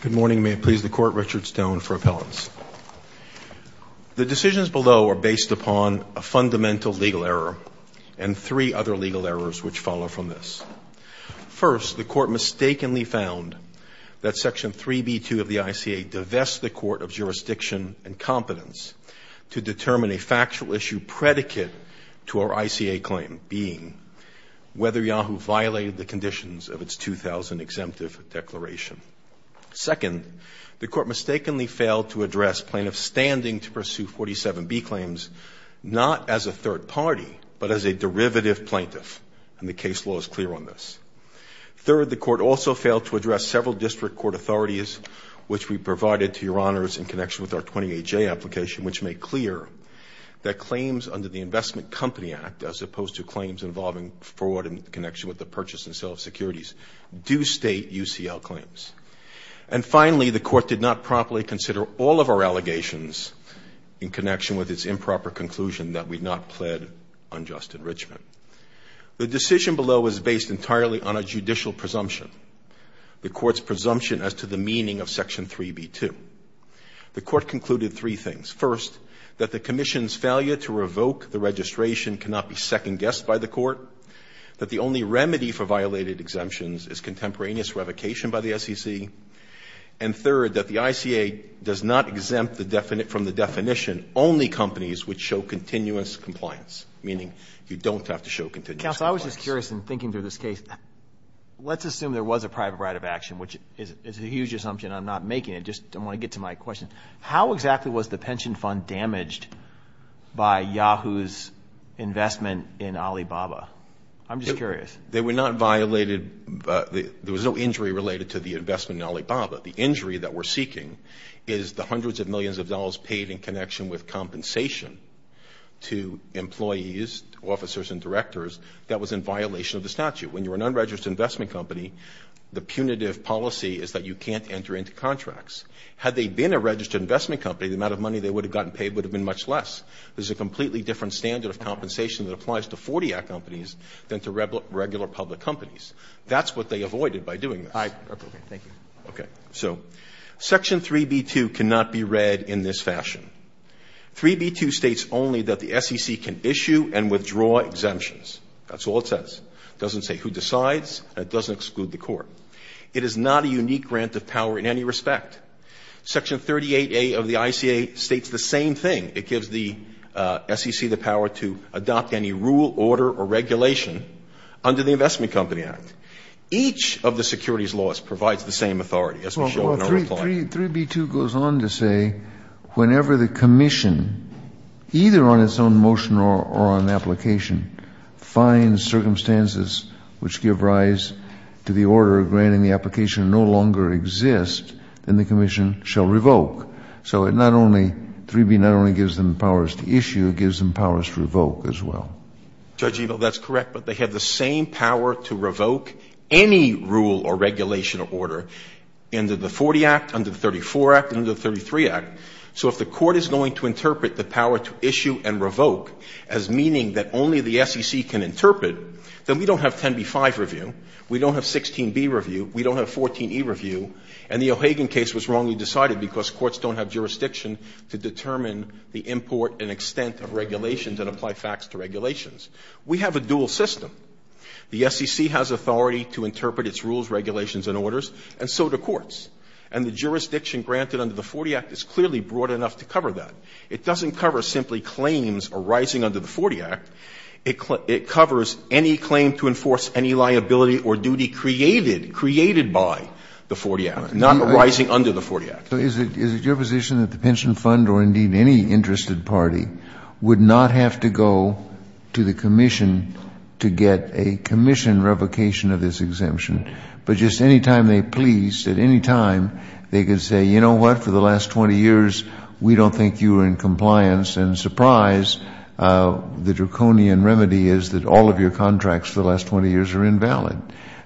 Good morning. May it please the Court, Richard Stone for appellants. The decisions below are based upon a fundamental legal error and three other legal errors which follow from this. First, the Court mistakenly found that Section 3B2 of the ICA divests the Court of Jurisdiction and Competence to determine a factual issue predicate to our ICA claim, whether Yahoo violated the conditions of its 2000 exemptive declaration. Second, the Court mistakenly failed to address plaintiffs' standing to pursue 47B claims, not as a third party, but as a derivative plaintiff, and the case law is clear on this. Third, the Court also failed to address several district court authorities, which we provided to Your Honors in connection with our 28J application, which made clear that claims under the Investment Company Act, as opposed to claims involving fraud in connection with the purchase and sale of securities, do state UCL claims. And finally, the Court did not promptly consider all of our allegations in connection with its improper conclusion that we not pled unjust enrichment. The decision below is based entirely on a judicial presumption, the Court's failure to revoke the registration cannot be second-guessed by the Court, that the only remedy for violated exemptions is contemporaneous revocation by the SEC, and third, that the ICA does not exempt from the definition only companies which show continuous compliance, meaning you don't have to show continuous compliance. Roberts. I was just curious in thinking through this case. Let's assume there was a private right of action, which is a huge assumption. I'm not making it. I just want to get to my question. How exactly was the pension fund damaged by Yahoo's investment in Alibaba? I'm just curious. They were not violated. There was no injury related to the investment in Alibaba. The injury that we're seeking is the hundreds of millions of dollars paid in connection with compensation to employees, officers, and directors that was in violation of the statute. When you're an unregistered investment company, the punitive policy is that you can't enter into contracts. Had they been a registered investment company, the amount of money they would have gotten paid would have been much less. There's a completely different standard of compensation that applies to 40-act companies than to regular public companies. That's what they avoided by doing this. I approve it. Thank you. Okay. So Section 3B2 cannot be read in this fashion. 3B2 states only that the SEC can It is not a unique grant of power in any respect. Section 38A of the ICA states the same thing. It gives the SEC the power to adopt any rule, order, or regulation under the Investment Company Act. Each of the securities laws provides the same authority, as we showed in our reply. Well, 3B2 goes on to say whenever the commission, either on its own motion or on application, finds circumstances which give rise to the order granting the application no longer exists, then the commission shall revoke. So it not only, 3B not only gives them powers to issue, it gives them powers to revoke as well. Judge Ebel, that's correct. But they have the same power to revoke any rule or regulation or order under the 40 Act, under the 34 Act, and under the 33 Act. So if the court is going to interpret the power to issue and revoke as meaning that only the SEC can interpret, then we don't have 10b-5 review, we don't have 16b review, we don't have 14e review, and the O'Hagan case was wrongly decided because courts don't have jurisdiction to determine the import and extent of regulations and apply facts to regulations. We have a dual system. The SEC has authority to interpret its rules, regulations, and orders, and so do courts. And the jurisdiction granted under the 40 Act is clearly broad enough to cover that. It doesn't cover simply claims arising under the 40 Act. It covers any claim to enforce any liability or duty created, created by the 40 Act, not arising under the 40 Act. Kennedy. So is it your position that the pension fund or indeed any interested party would not have to go to the commission to get a commission revocation of this exemption, but just any time they pleased, at any time they could say, you know what, for the last 20 years we don't think you were in compliance, and surprise, the draconian remedy is that all of your contracts for the last 20 years are invalid.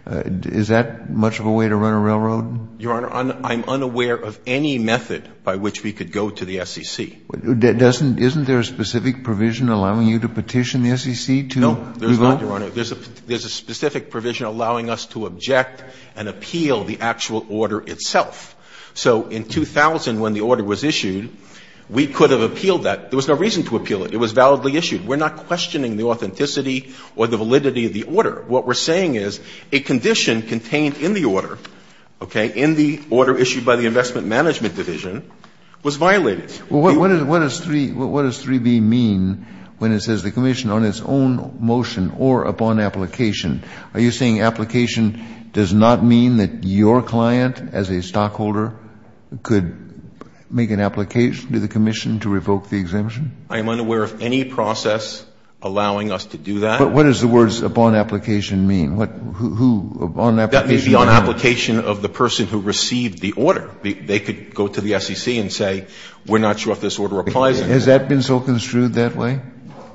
Is that much of a way to run a railroad? Your Honor, I'm unaware of any method by which we could go to the SEC. Isn't there a specific provision allowing you to petition the SEC to revoke? No, there's not, Your Honor. There's a specific provision allowing us to object and appeal the actual order itself. So in 2000, when the order was issued, we could have appealed that. There was no reason to appeal it. It was validly issued. We're not questioning the authenticity or the validity of the order. What we're saying is a condition contained in the order, okay, in the order issued by the Investment Management Division was violated. What does 3B mean when it says the commission on its own motion or upon application? Are you saying application does not mean that your client as a stockholder could make an application to the commission to revoke the exemption? I am unaware of any process allowing us to do that. But what does the words upon application mean? Who, upon application? That would be on application of the person who received the order. They could go to the SEC and say we're not sure if this order applies. Has that been so construed that way?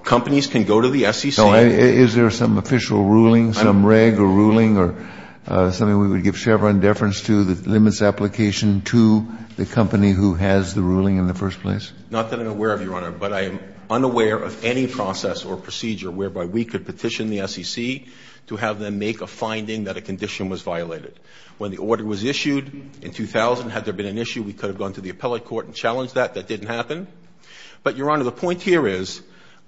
Companies can go to the SEC. Is there some official ruling, some reg or ruling or something we would give Chevron deference to that limits application to the company who has the ruling in the first place? Not that I'm aware of, Your Honor, but I am unaware of any process or procedure whereby we could petition the SEC to have them make a finding that a condition was violated. When the order was issued in 2000, had there been an issue, we could have gone to the appellate court and challenged that. That didn't happen. But, Your Honor, the point here is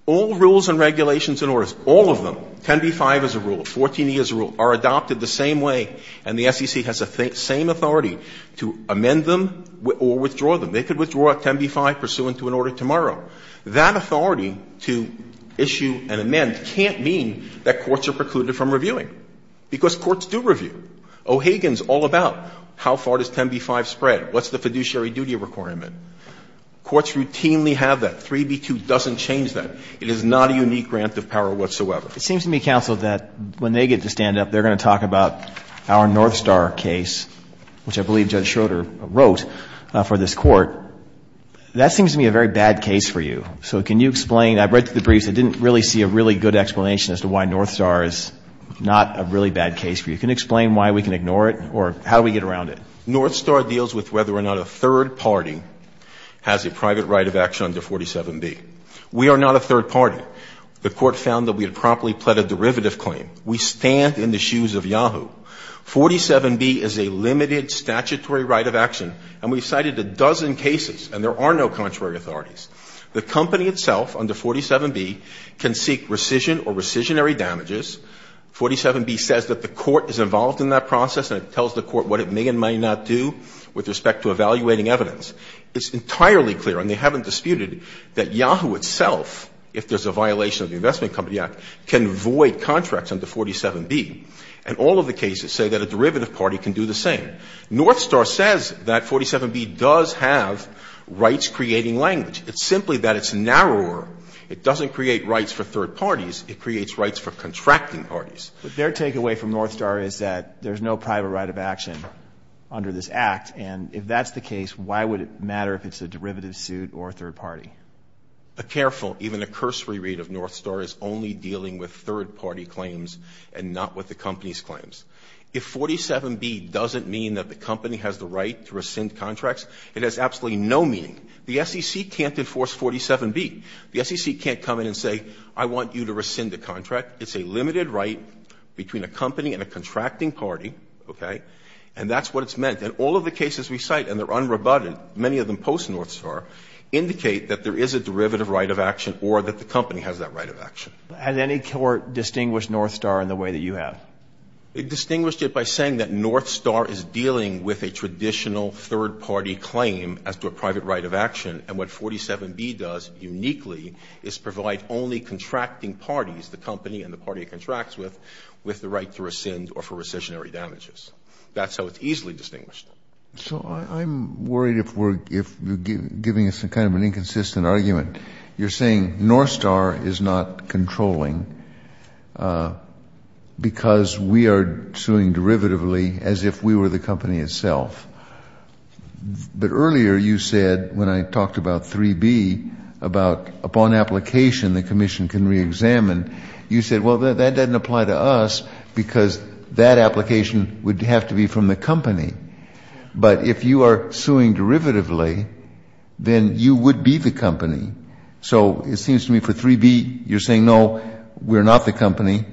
all rules and regulations and orders, all of them, 10b-5 as a rule, 14e as a rule, are adopted the same way and the SEC has the same authority to amend them or withdraw them. They could withdraw a 10b-5 pursuant to an order tomorrow. That authority to issue an amend can't mean that courts are precluded from reviewing, because courts do review. O'Hagan is all about how far does 10b-5 spread, what's the fiduciary duty requirement. Courts routinely have that. 3b-2 doesn't change that. It is not a unique grant of power whatsoever. It seems to me, counsel, that when they get to stand up, they're going to talk about our Northstar case, which I believe Judge Schroeder wrote for this Court. That seems to me a very bad case for you. So can you explain? I've read through the briefs. I didn't really see a really good explanation as to why Northstar is not a really bad case for you. Can you explain why we can ignore it or how do we get around it? Northstar deals with whether or not a third party has a private right of action under 47b. We are not a third party. The Court found that we had promptly pled a derivative claim. We stand in the shoes of Yahoo. 47b is a limited statutory right of action, and we've cited a dozen cases, and there are no contrary authorities. The company itself under 47b can seek rescission or rescissionary damages. 47b says that the Court is involved in that process, and it tells the Court what it may and may not do with respect to evaluating evidence. It's entirely clear, and they haven't disputed, that Yahoo itself, if there's a violation of the Investment Company Act, can void contracts under 47b. And all of the cases say that a derivative party can do the same. Northstar says that 47b does have rights-creating language. It's simply that it's narrower. It doesn't create rights for third parties. It creates rights for contracting parties. But their takeaway from Northstar is that there's no private right of action under this Act, and if that's the case, why would it matter if it's a derivative suit or a third party? A careful, even a cursory read of Northstar is only dealing with third party claims and not with the company's claims. If 47b doesn't mean that the company has the right to rescind contracts, it has absolutely no meaning. The SEC can't enforce 47b. The SEC can't come in and say, I want you to rescind the contract. It's a limited right between a company and a contracting party, okay? And that's what it's meant. And all of the cases we cite, and they're unrebutted, many of them post-Northstar, indicate that there is a derivative right of action or that the company has that right of action. And any court distinguished Northstar in the way that you have? It distinguished it by saying that Northstar is dealing with a traditional third party claim as to a private right of action, and what 47b does uniquely is provide only contracting parties, the company and the party it contracts with, with the right to rescind or for rescissionary damages. That's how it's easily distinguished. Kennedy. So I'm worried if we're giving us some kind of an inconsistent argument. You're saying Northstar is not controlling because we are suing derivatively as if we were the company itself. But earlier you said, when I talked about 3b, about upon application the commission can reexamine, you said, well, that doesn't apply to us because that application would have to be from the company. But if you are suing derivatively, then you would be the company. So it seems to me for 3b, you're saying, no, we're not the company.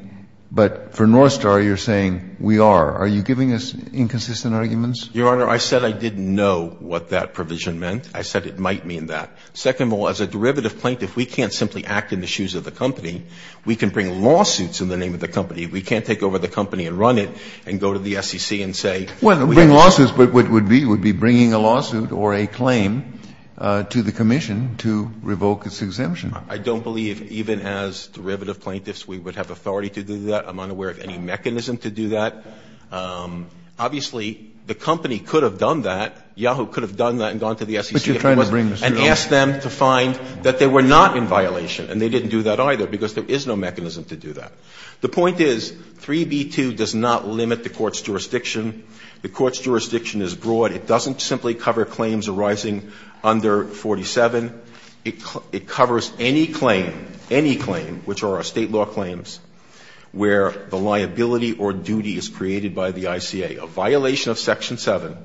But for Northstar, you're saying we are. Are you giving us inconsistent arguments? Your Honor, I said I didn't know what that provision meant. I said it might mean that. Second of all, as a derivative plaintiff, we can't simply act in the shoes of the company. We can bring lawsuits in the name of the company. We can't take over the company and run it and go to the SEC and say we have to do that. Well, bring lawsuits would be bringing a lawsuit or a claim to the commission to revoke its exemption. I don't believe even as derivative plaintiffs we would have authority to do that. I'm unaware of any mechanism to do that. Obviously, the company could have done that. Yahoo could have done that and gone to the SEC if it wasn't. And asked them to find that they were not in violation. And they didn't do that either, because there is no mechanism to do that. The point is 3b-2 does not limit the Court's jurisdiction. The Court's jurisdiction is broad. It doesn't simply cover claims arising under 47. It covers any claim, any claim, which are our State law claims, where the liability or duty is created by the ICA. A violation of Section 7,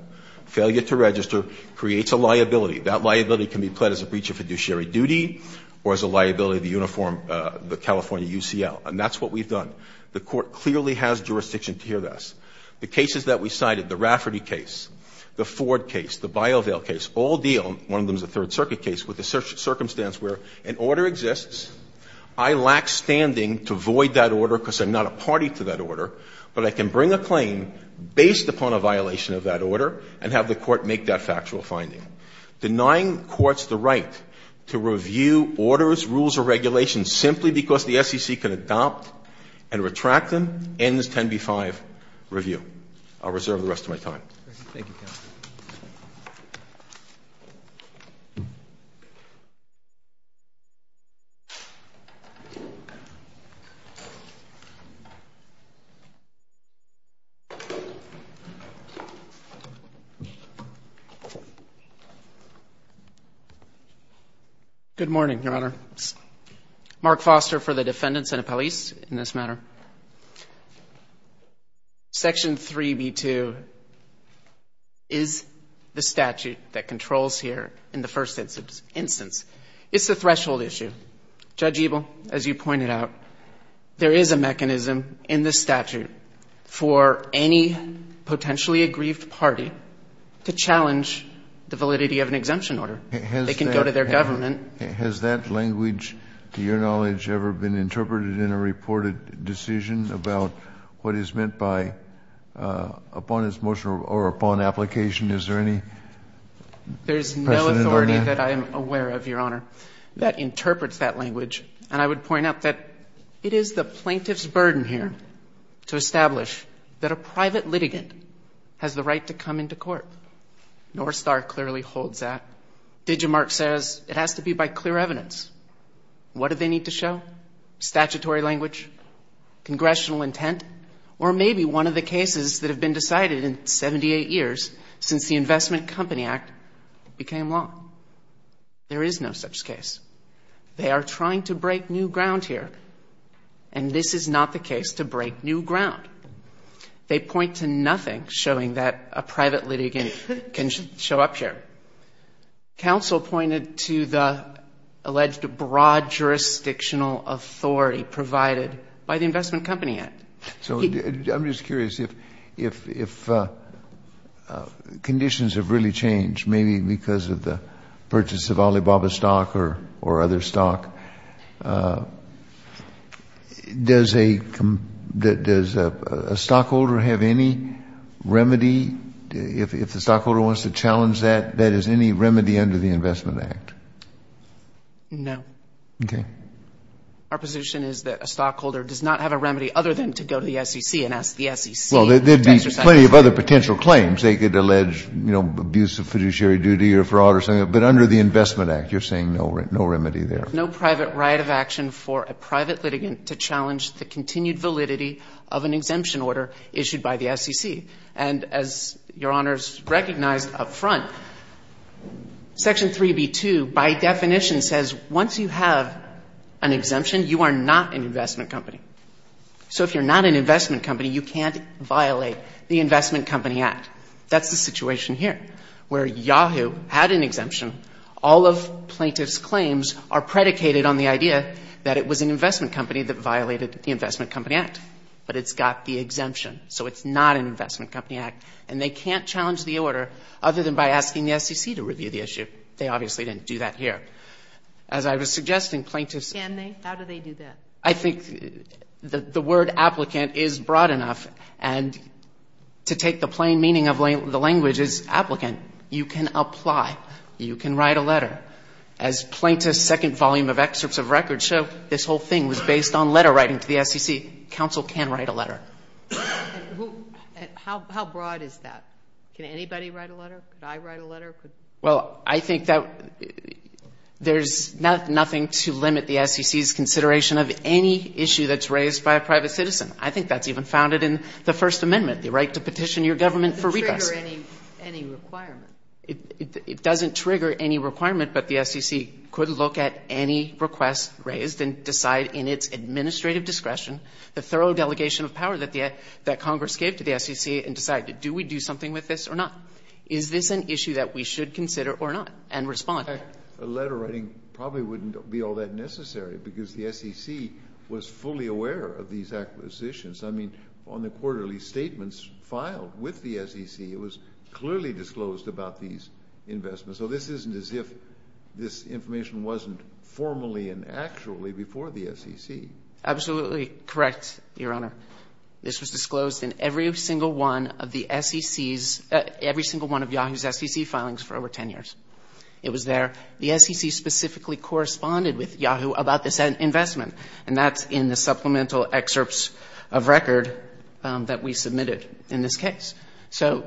failure to register, creates a liability. That liability can be pledged as a breach of fiduciary duty or as a liability of the uniform of the California UCL. And that's what we've done. The Court clearly has jurisdiction to hear this. The cases that we cited, the Rafferty case, the Ford case, the BioVail case, all deal one of them is a Third Circuit case with the circumstance where an order exists, I lack standing to void that order because I'm not a party to that order, but I can bring a claim based upon a violation of that order and have the Court make that factual finding. Denying courts the right to review orders, rules, or regulations simply because the SEC can adopt and retract them ends 10b-5 review. I'll reserve the rest of my time. Thank you, counsel. Good morning, Your Honor. Mark Foster for the defendant, Senate Police, in this matter. Section 3b-2 is the statute that controls here in the first instance. It's a threshold issue. Judge Ebel, as you pointed out, there is a mechanism in the statute for any potentially aggrieved party to challenge the validity of an exemption order. It can go to their government. Has that language, to your knowledge, ever been interpreted in a reported decision about what is meant by, upon its motion or upon application, is there any precedent on that? There is no authority that I am aware of, Your Honor, that interprets that language. And I would point out that it is the plaintiff's burden here to establish that a private litigant has the right to come into court. North Star clearly holds that. DigiMark says it has to be by clear evidence. What do they need to show? Statutory language? Congressional intent? Or maybe one of the cases that have been decided in 78 years since the Investment Company Act became law. There is no such case. They are trying to break new ground here. And this is not the case to break new ground. They point to nothing showing that a private litigant can show up here. Counsel pointed to the alleged broad jurisdictional authority provided by the Investment Company Act. So I'm just curious, if conditions have really changed, maybe because of the purchase of Alibaba stock or other stock, does a stockholder have any remedy, if the stockholder wants to challenge that, that is any remedy under the Investment Act? No. Okay. Our position is that a stockholder does not have a remedy other than to go to the SEC and ask the SEC. Well, there would be plenty of other potential claims. They could allege, you know, abuse of fiduciary duty or fraud or something. But under the Investment Act, you're saying no remedy there. No private right of action for a private litigant to challenge the continued validity of an exemption order issued by the SEC. And as Your Honors recognized up front, Section 3B2 by definition says once you have an exemption, you are not an investment company. So if you're not an investment company, you can't violate the Investment Company Act. That's the situation here, where Yahoo had an exemption. All of plaintiff's claims are predicated on the idea that it was an investment company that violated the Investment Company Act. But it's got the exemption. So it's not an Investment Company Act. And they can't challenge the order other than by asking the SEC to review the issue. They obviously didn't do that here. As I was suggesting, plaintiffs — Can they? How do they do that? I think the word applicant is broad enough. And to take the plain meaning of the language is applicant. You can apply. You can write a letter. As plaintiffs' second volume of excerpts of records show, this whole thing was based on letter writing to the SEC. Counsel can write a letter. How broad is that? Can anybody write a letter? Could I write a letter? Well, I think that there's nothing to limit the SEC's consideration of any issue that's raised by a private citizen. I think that's even founded in the First Amendment, the right to petition your government for redress. It doesn't trigger any requirement. It doesn't trigger any requirement. But the SEC could look at any request raised and decide in its administrative discretion the thorough delegation of power that Congress gave to the SEC and decide, do we do something with this or not? Is this an issue that we should consider or not? And respond. A letter writing probably wouldn't be all that necessary because the SEC was fully aware of these acquisitions. I mean, on the quarterly statements filed with the SEC, it was clearly disclosed about these investments. So this isn't as if this information wasn't formally and actually before the SEC. Absolutely correct, Your Honor. This was disclosed in every single one of the SEC's, every single one of Yahoo's SEC filings for over 10 years. It was there. The SEC specifically corresponded with Yahoo about this investment. And that's in the supplemental excerpts of record that we submitted in this case. So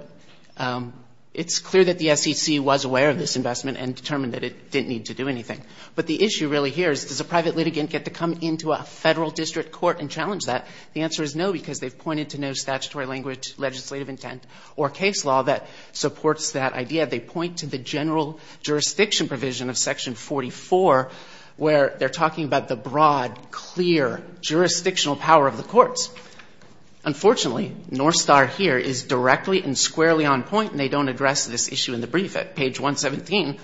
it's clear that the SEC was aware of this investment and determined that it didn't need to do anything. But the issue really here is, does a private litigant get to come into a federal district court and challenge that? The answer is no, because they've pointed to no statutory language, legislative intent, or case law that supports that idea. They point to the general jurisdiction provision of Section 44, where they're talking about the broad, clear jurisdictional power of the courts. Unfortunately, Northstar here is directly and squarely on point, and they don't address this issue in the brief. At page 117,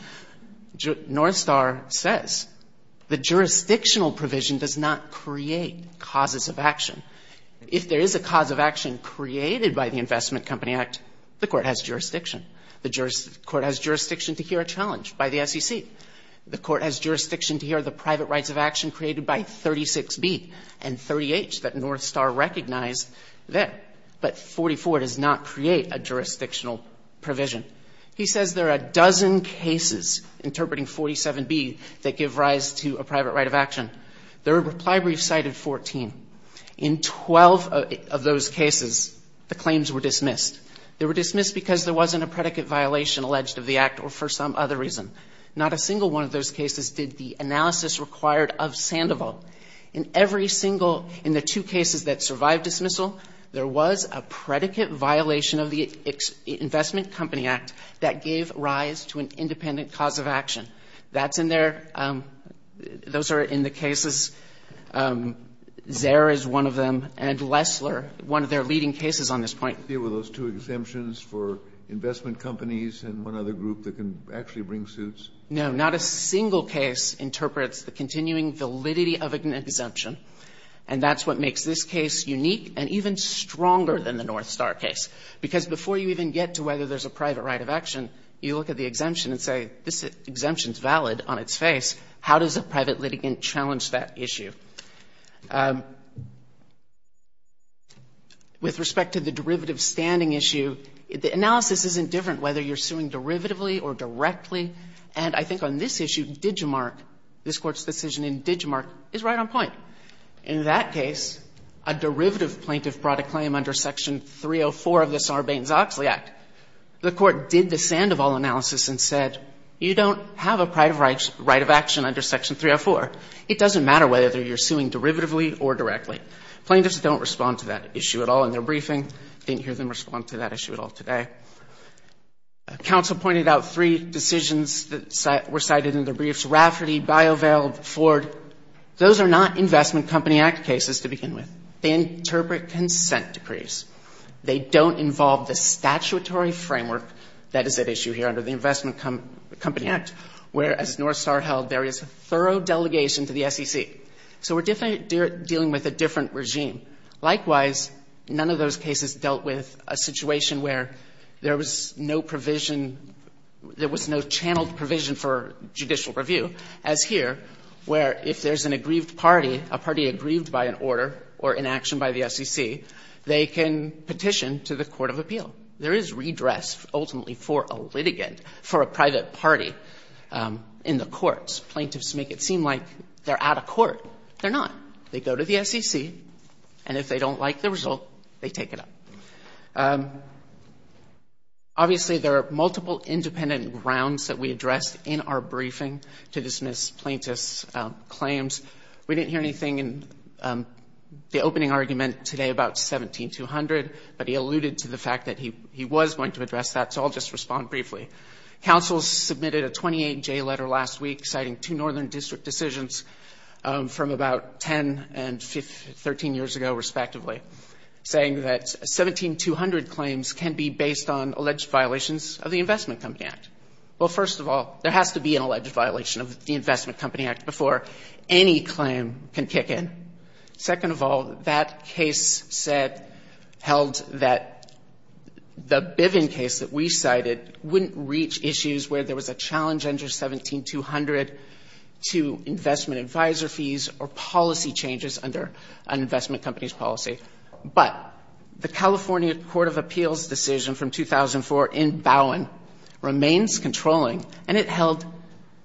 Northstar says, the jurisdictional provision does not create causes of action. If there is a cause of action created by the Investment Company Act, the court has jurisdiction. The court has jurisdiction to hear a challenge by the SEC. The court has jurisdiction to hear the private rights of action created by 36B and 38, that Northstar recognized there. But 44 does not create a jurisdictional provision. He says there are a dozen cases, interpreting 47B, that give rise to a private right of action. The reply brief cited 14. In 12 of those cases, the claims were dismissed. They were dismissed because there wasn't a predicate violation alleged of the act or for some other reason. Not a single one of those cases did the analysis required of Sandoval. In every single, in the two cases that survived dismissal, there was a predicate violation of the Investment Company Act that gave rise to an independent cause of action. That's in there. Those are in the cases. Zare is one of them. And Lesler, one of their leading cases on this point. Kennedy. Were those two exemptions for investment companies and one other group that can actually bring suits? No. Not a single case interprets the continuing validity of an exemption. And that's what makes this case unique and even stronger than the North Star case. Because before you even get to whether there's a private right of action, you look at the exemption and say, this exemption is valid on its face. How does a private litigant challenge that issue? With respect to the derivative standing issue, the analysis isn't different whether you're suing derivatively or directly. And I think on this issue, Digimarc, this Court's decision in Digimarc is right on point. In that case, a derivative plaintiff brought a claim under Section 304 of the Sarbanes-Oxley Act. The Court did the sand of all analysis and said, you don't have a private right of action under Section 304. It doesn't matter whether you're suing derivatively or directly. Plaintiffs don't respond to that issue at all in their briefing. Didn't hear them respond to that issue at all today. Council pointed out three decisions that were cited in their briefs. Those are not Investment Company Act cases to begin with. They interpret consent decrees. They don't involve the statutory framework that is at issue here under the Investment Company Act, where, as Northstar held, there is a thorough delegation to the SEC. So we're definitely dealing with a different regime. Likewise, none of those cases dealt with a situation where there was no provision there was no channeled provision for judicial review, as here, where if there's an aggrieved party, a party aggrieved by an order or inaction by the SEC, they can petition to the Court of Appeal. There is redress, ultimately, for a litigant, for a private party in the courts. Plaintiffs make it seem like they're out of court. They're not. They go to the SEC, and if they don't like the result, they take it up. Obviously, there are multiple independent grounds that we addressed in our briefing to dismiss plaintiffs' claims. We didn't hear anything in the opening argument today about 17200, but he alluded to the fact that he was going to address that, so I'll just respond briefly. Counsel submitted a 28-J letter last week citing two Northern District decisions from about 10 and 13 years ago, respectively, saying that 17200 claims can be based on alleged violations of the Investment Company Act. Well, first of all, there has to be an alleged violation of the Investment Company Act before any claim can kick in. Second of all, that case said held that the Biven case that we cited wouldn't reach issues where there was a challenge under 17200 to investment advisor fees or policy changes under an investment company's policy. But the California Court of Appeals decision from 2004 in Bowen remains controlling, and it held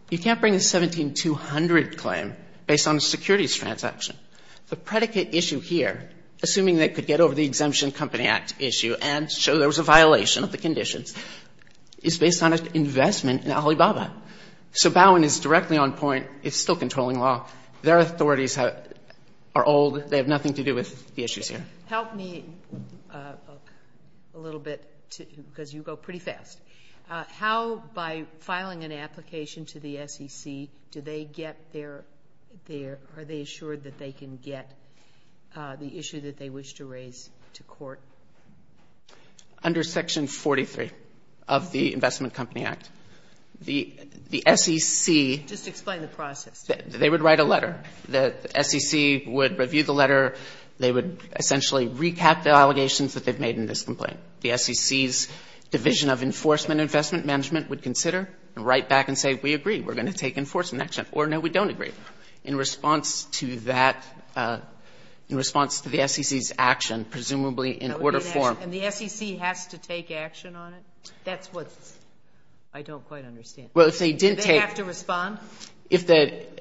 you can't bring a 17200 claim based on a securities transaction. The predicate issue here, assuming they could get over the Exemption Company Act issue and show there was a violation of the conditions, is based on an investment in Alibaba. So Bowen is directly on point. It's still controlling law. Their authorities are old. They have nothing to do with the issues here. Help me a little bit, because you go pretty fast. How, by filing an application to the SEC, do they get their – are they assured that they can get the issue that they wish to raise to court? Under Section 43 of the Investment Company Act, the SEC – Just explain the process. They would write a letter. The SEC would review the letter. They would essentially recap the allegations that they've made in this complaint. The SEC's Division of Enforcement Investment Management would consider and write back and say, we agree, we're going to take enforcement action. Or, no, we don't agree. In response to that, in response to the SEC's action, presumably in order form – And the SEC has to take action on it? That's what I don't quite understand. Well, if they didn't take – Do they have to respond? If they –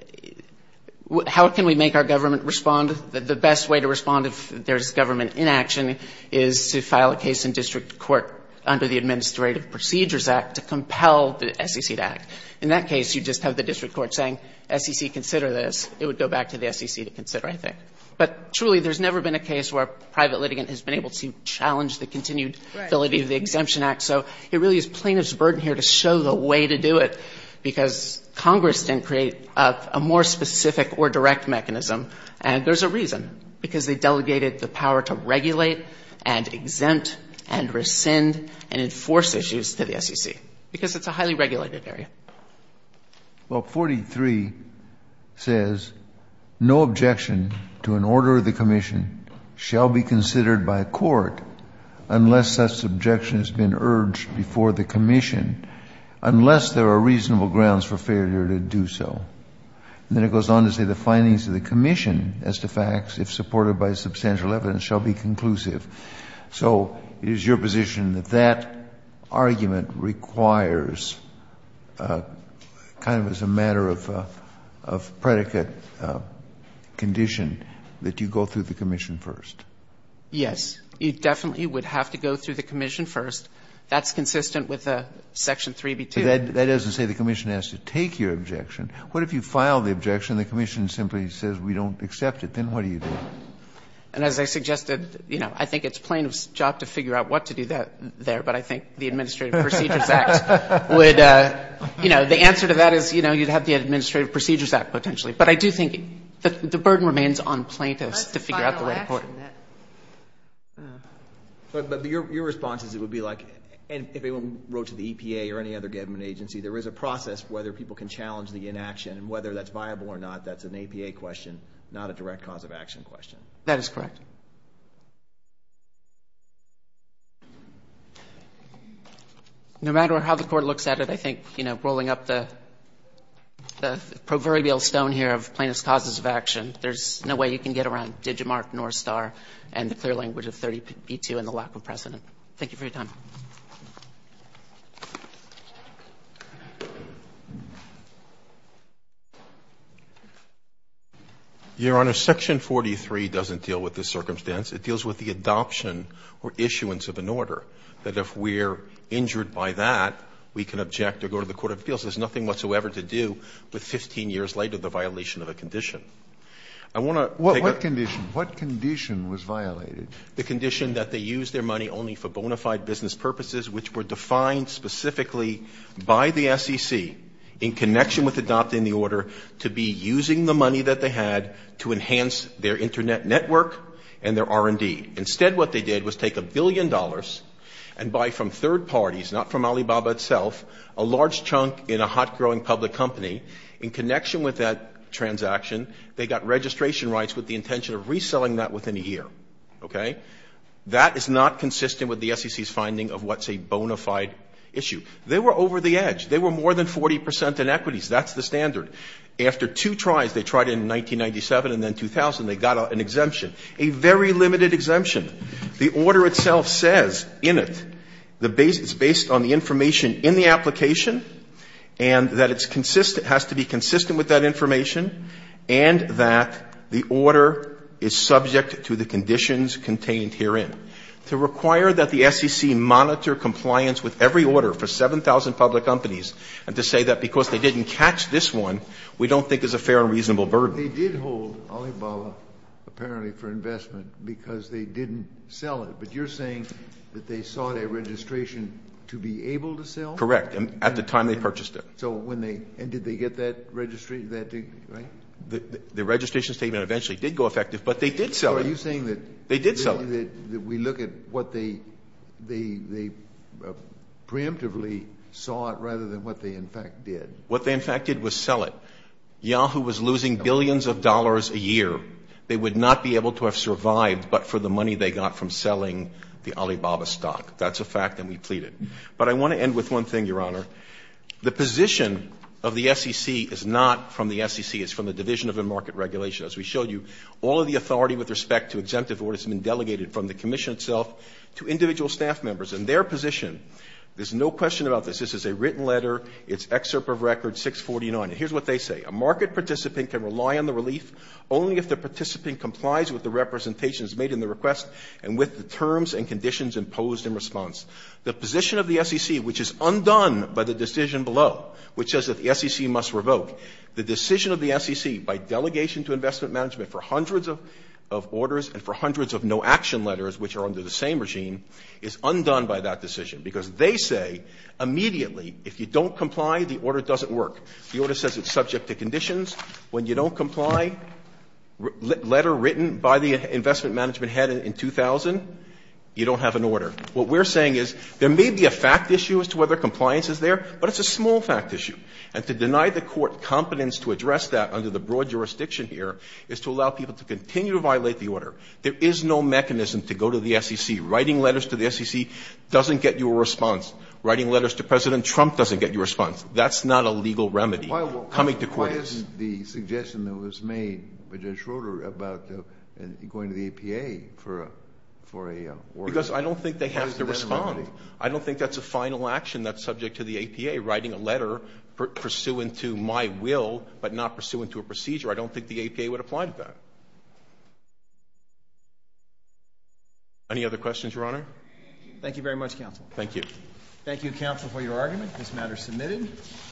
how can we make our government respond? The best way to respond if there's government inaction is to file a case in district court under the Administrative Procedures Act to compel the SEC to act. In that case, you just have the district court saying, SEC, consider this. It would go back to the SEC to consider, I think. But truly, there's never been a case where a private litigant has been able to challenge the continued ability of the Exemption Act. So it really is plaintiff's burden here to show the way to do it, because Congress didn't create a more specific or direct mechanism. And there's a reason, because they delegated the power to regulate and exempt and rescind and enforce issues to the SEC, because it's a highly regulated area. Well, 43 says, No objection to an order of the Commission shall be considered by a court unless such objection has been urged before the Commission, unless there are reasonable grounds for failure to do so. And then it goes on to say the findings of the Commission as to facts, if supported by substantial evidence, shall be conclusive. So it is your position that that argument requires, kind of as a matter of predicate condition, that you go through the Commission first? Yes. It definitely would have to go through the Commission first. That's consistent with Section 3B2. But that doesn't say the Commission has to take your objection. What if you file the objection and the Commission simply says we don't accept it? Then what do you do? And as I suggested, you know, I think it's plaintiff's job to figure out what to do there. But I think the Administrative Procedures Act would, you know, the answer to that is, you know, you'd have the Administrative Procedures Act potentially. But I do think the burden remains on plaintiffs to figure out the right court. But your response is it would be like, if anyone wrote to the EPA or any other government agency, there is a process whether people can challenge the inaction. And whether that's viable or not, that's an APA question, not a direct cause of action question. That is correct. No matter how the Court looks at it, I think, you know, rolling up the proverbial stone here of plaintiff's causes of action, there's no way you can get around Digimart, North Star, and the clear language of 30B2 and the lack of precedent. Thank you for your time. Your Honor, section 43 doesn't deal with the circumstance. It deals with the adoption or issuance of an order, that if we're injured by that, we can object or go to the court of appeals. There's nothing whatsoever to do with 15 years later the violation of a condition. I want to take a question. What condition? What condition was violated? The condition that they used their money only for bona fide business purposes, which were defined specifically by the SEC in connection with adopting the order to be using the money that they had to enhance their Internet network and their R&D. Instead, what they did was take a billion dollars and buy from third parties, not from Alibaba itself, a large chunk in a hot growing public company. In connection with that transaction, they got registration rights with the intention of reselling that within a year. Okay? That is not consistent with the SEC's finding of what's a bona fide issue. They were over the edge. They were more than 40 percent in equities. That's the standard. After two tries, they tried in 1997 and then 2000, they got an exemption, a very limited exemption. The order itself says in it, the base is based on the information in the application and that it's consistent, has to be consistent with that information, and that the conditions contained herein. To require that the SEC monitor compliance with every order for 7,000 public companies and to say that because they didn't catch this one, we don't think is a fair and reasonable burden. They did hold Alibaba apparently for investment because they didn't sell it. But you're saying that they sought a registration to be able to sell? Correct. At the time they purchased it. So when they – and did they get that registry, that – right? The registration statement eventually did go effective, but they did sell it. So are you saying that – They did sell it. – that we look at what they preemptively sought rather than what they in fact did? What they in fact did was sell it. Yahoo was losing billions of dollars a year. They would not be able to have survived but for the money they got from selling the Alibaba stock. That's a fact that we pleaded. But I want to end with one thing, Your Honor. The position of the SEC is not from the SEC. It's from the Division of the Market Regulation, as we showed you. All of the authority with respect to exemptive orders has been delegated from the commission itself to individual staff members and their position. There's no question about this. This is a written letter. It's Excerpt of Record 649. And here's what they say. A market participant can rely on the relief only if the participant complies with the representations made in the request and with the terms and conditions imposed in response. The position of the SEC, which is undone by the decision below, which says that the SEC must revoke. The decision of the SEC by delegation to investment management for hundreds of orders and for hundreds of no-action letters which are under the same regime is undone by that decision, because they say immediately if you don't comply, the order doesn't work. The order says it's subject to conditions. When you don't comply, letter written by the investment management head in 2000, you don't have an order. What we're saying is there may be a fact issue as to whether compliance is there, but it's a small fact issue. And to deny the Court competence to address that under the broad jurisdiction here is to allow people to continue to violate the order. There is no mechanism to go to the SEC. Writing letters to the SEC doesn't get you a response. Writing letters to President Trump doesn't get you a response. That's not a legal remedy coming to court. Kennedy. Why isn't the suggestion that was made by Judge Schroeder about going to the APA for a order? Because I don't think they have to respond. I don't think that's a final action that's subject to the APA, writing a letter pursuant to my will but not pursuant to a procedure. I don't think the APA would apply to that. Any other questions, Your Honor? Thank you very much, Counsel. Thank you. Thank you, Counsel, for your argument. This matter is submitted.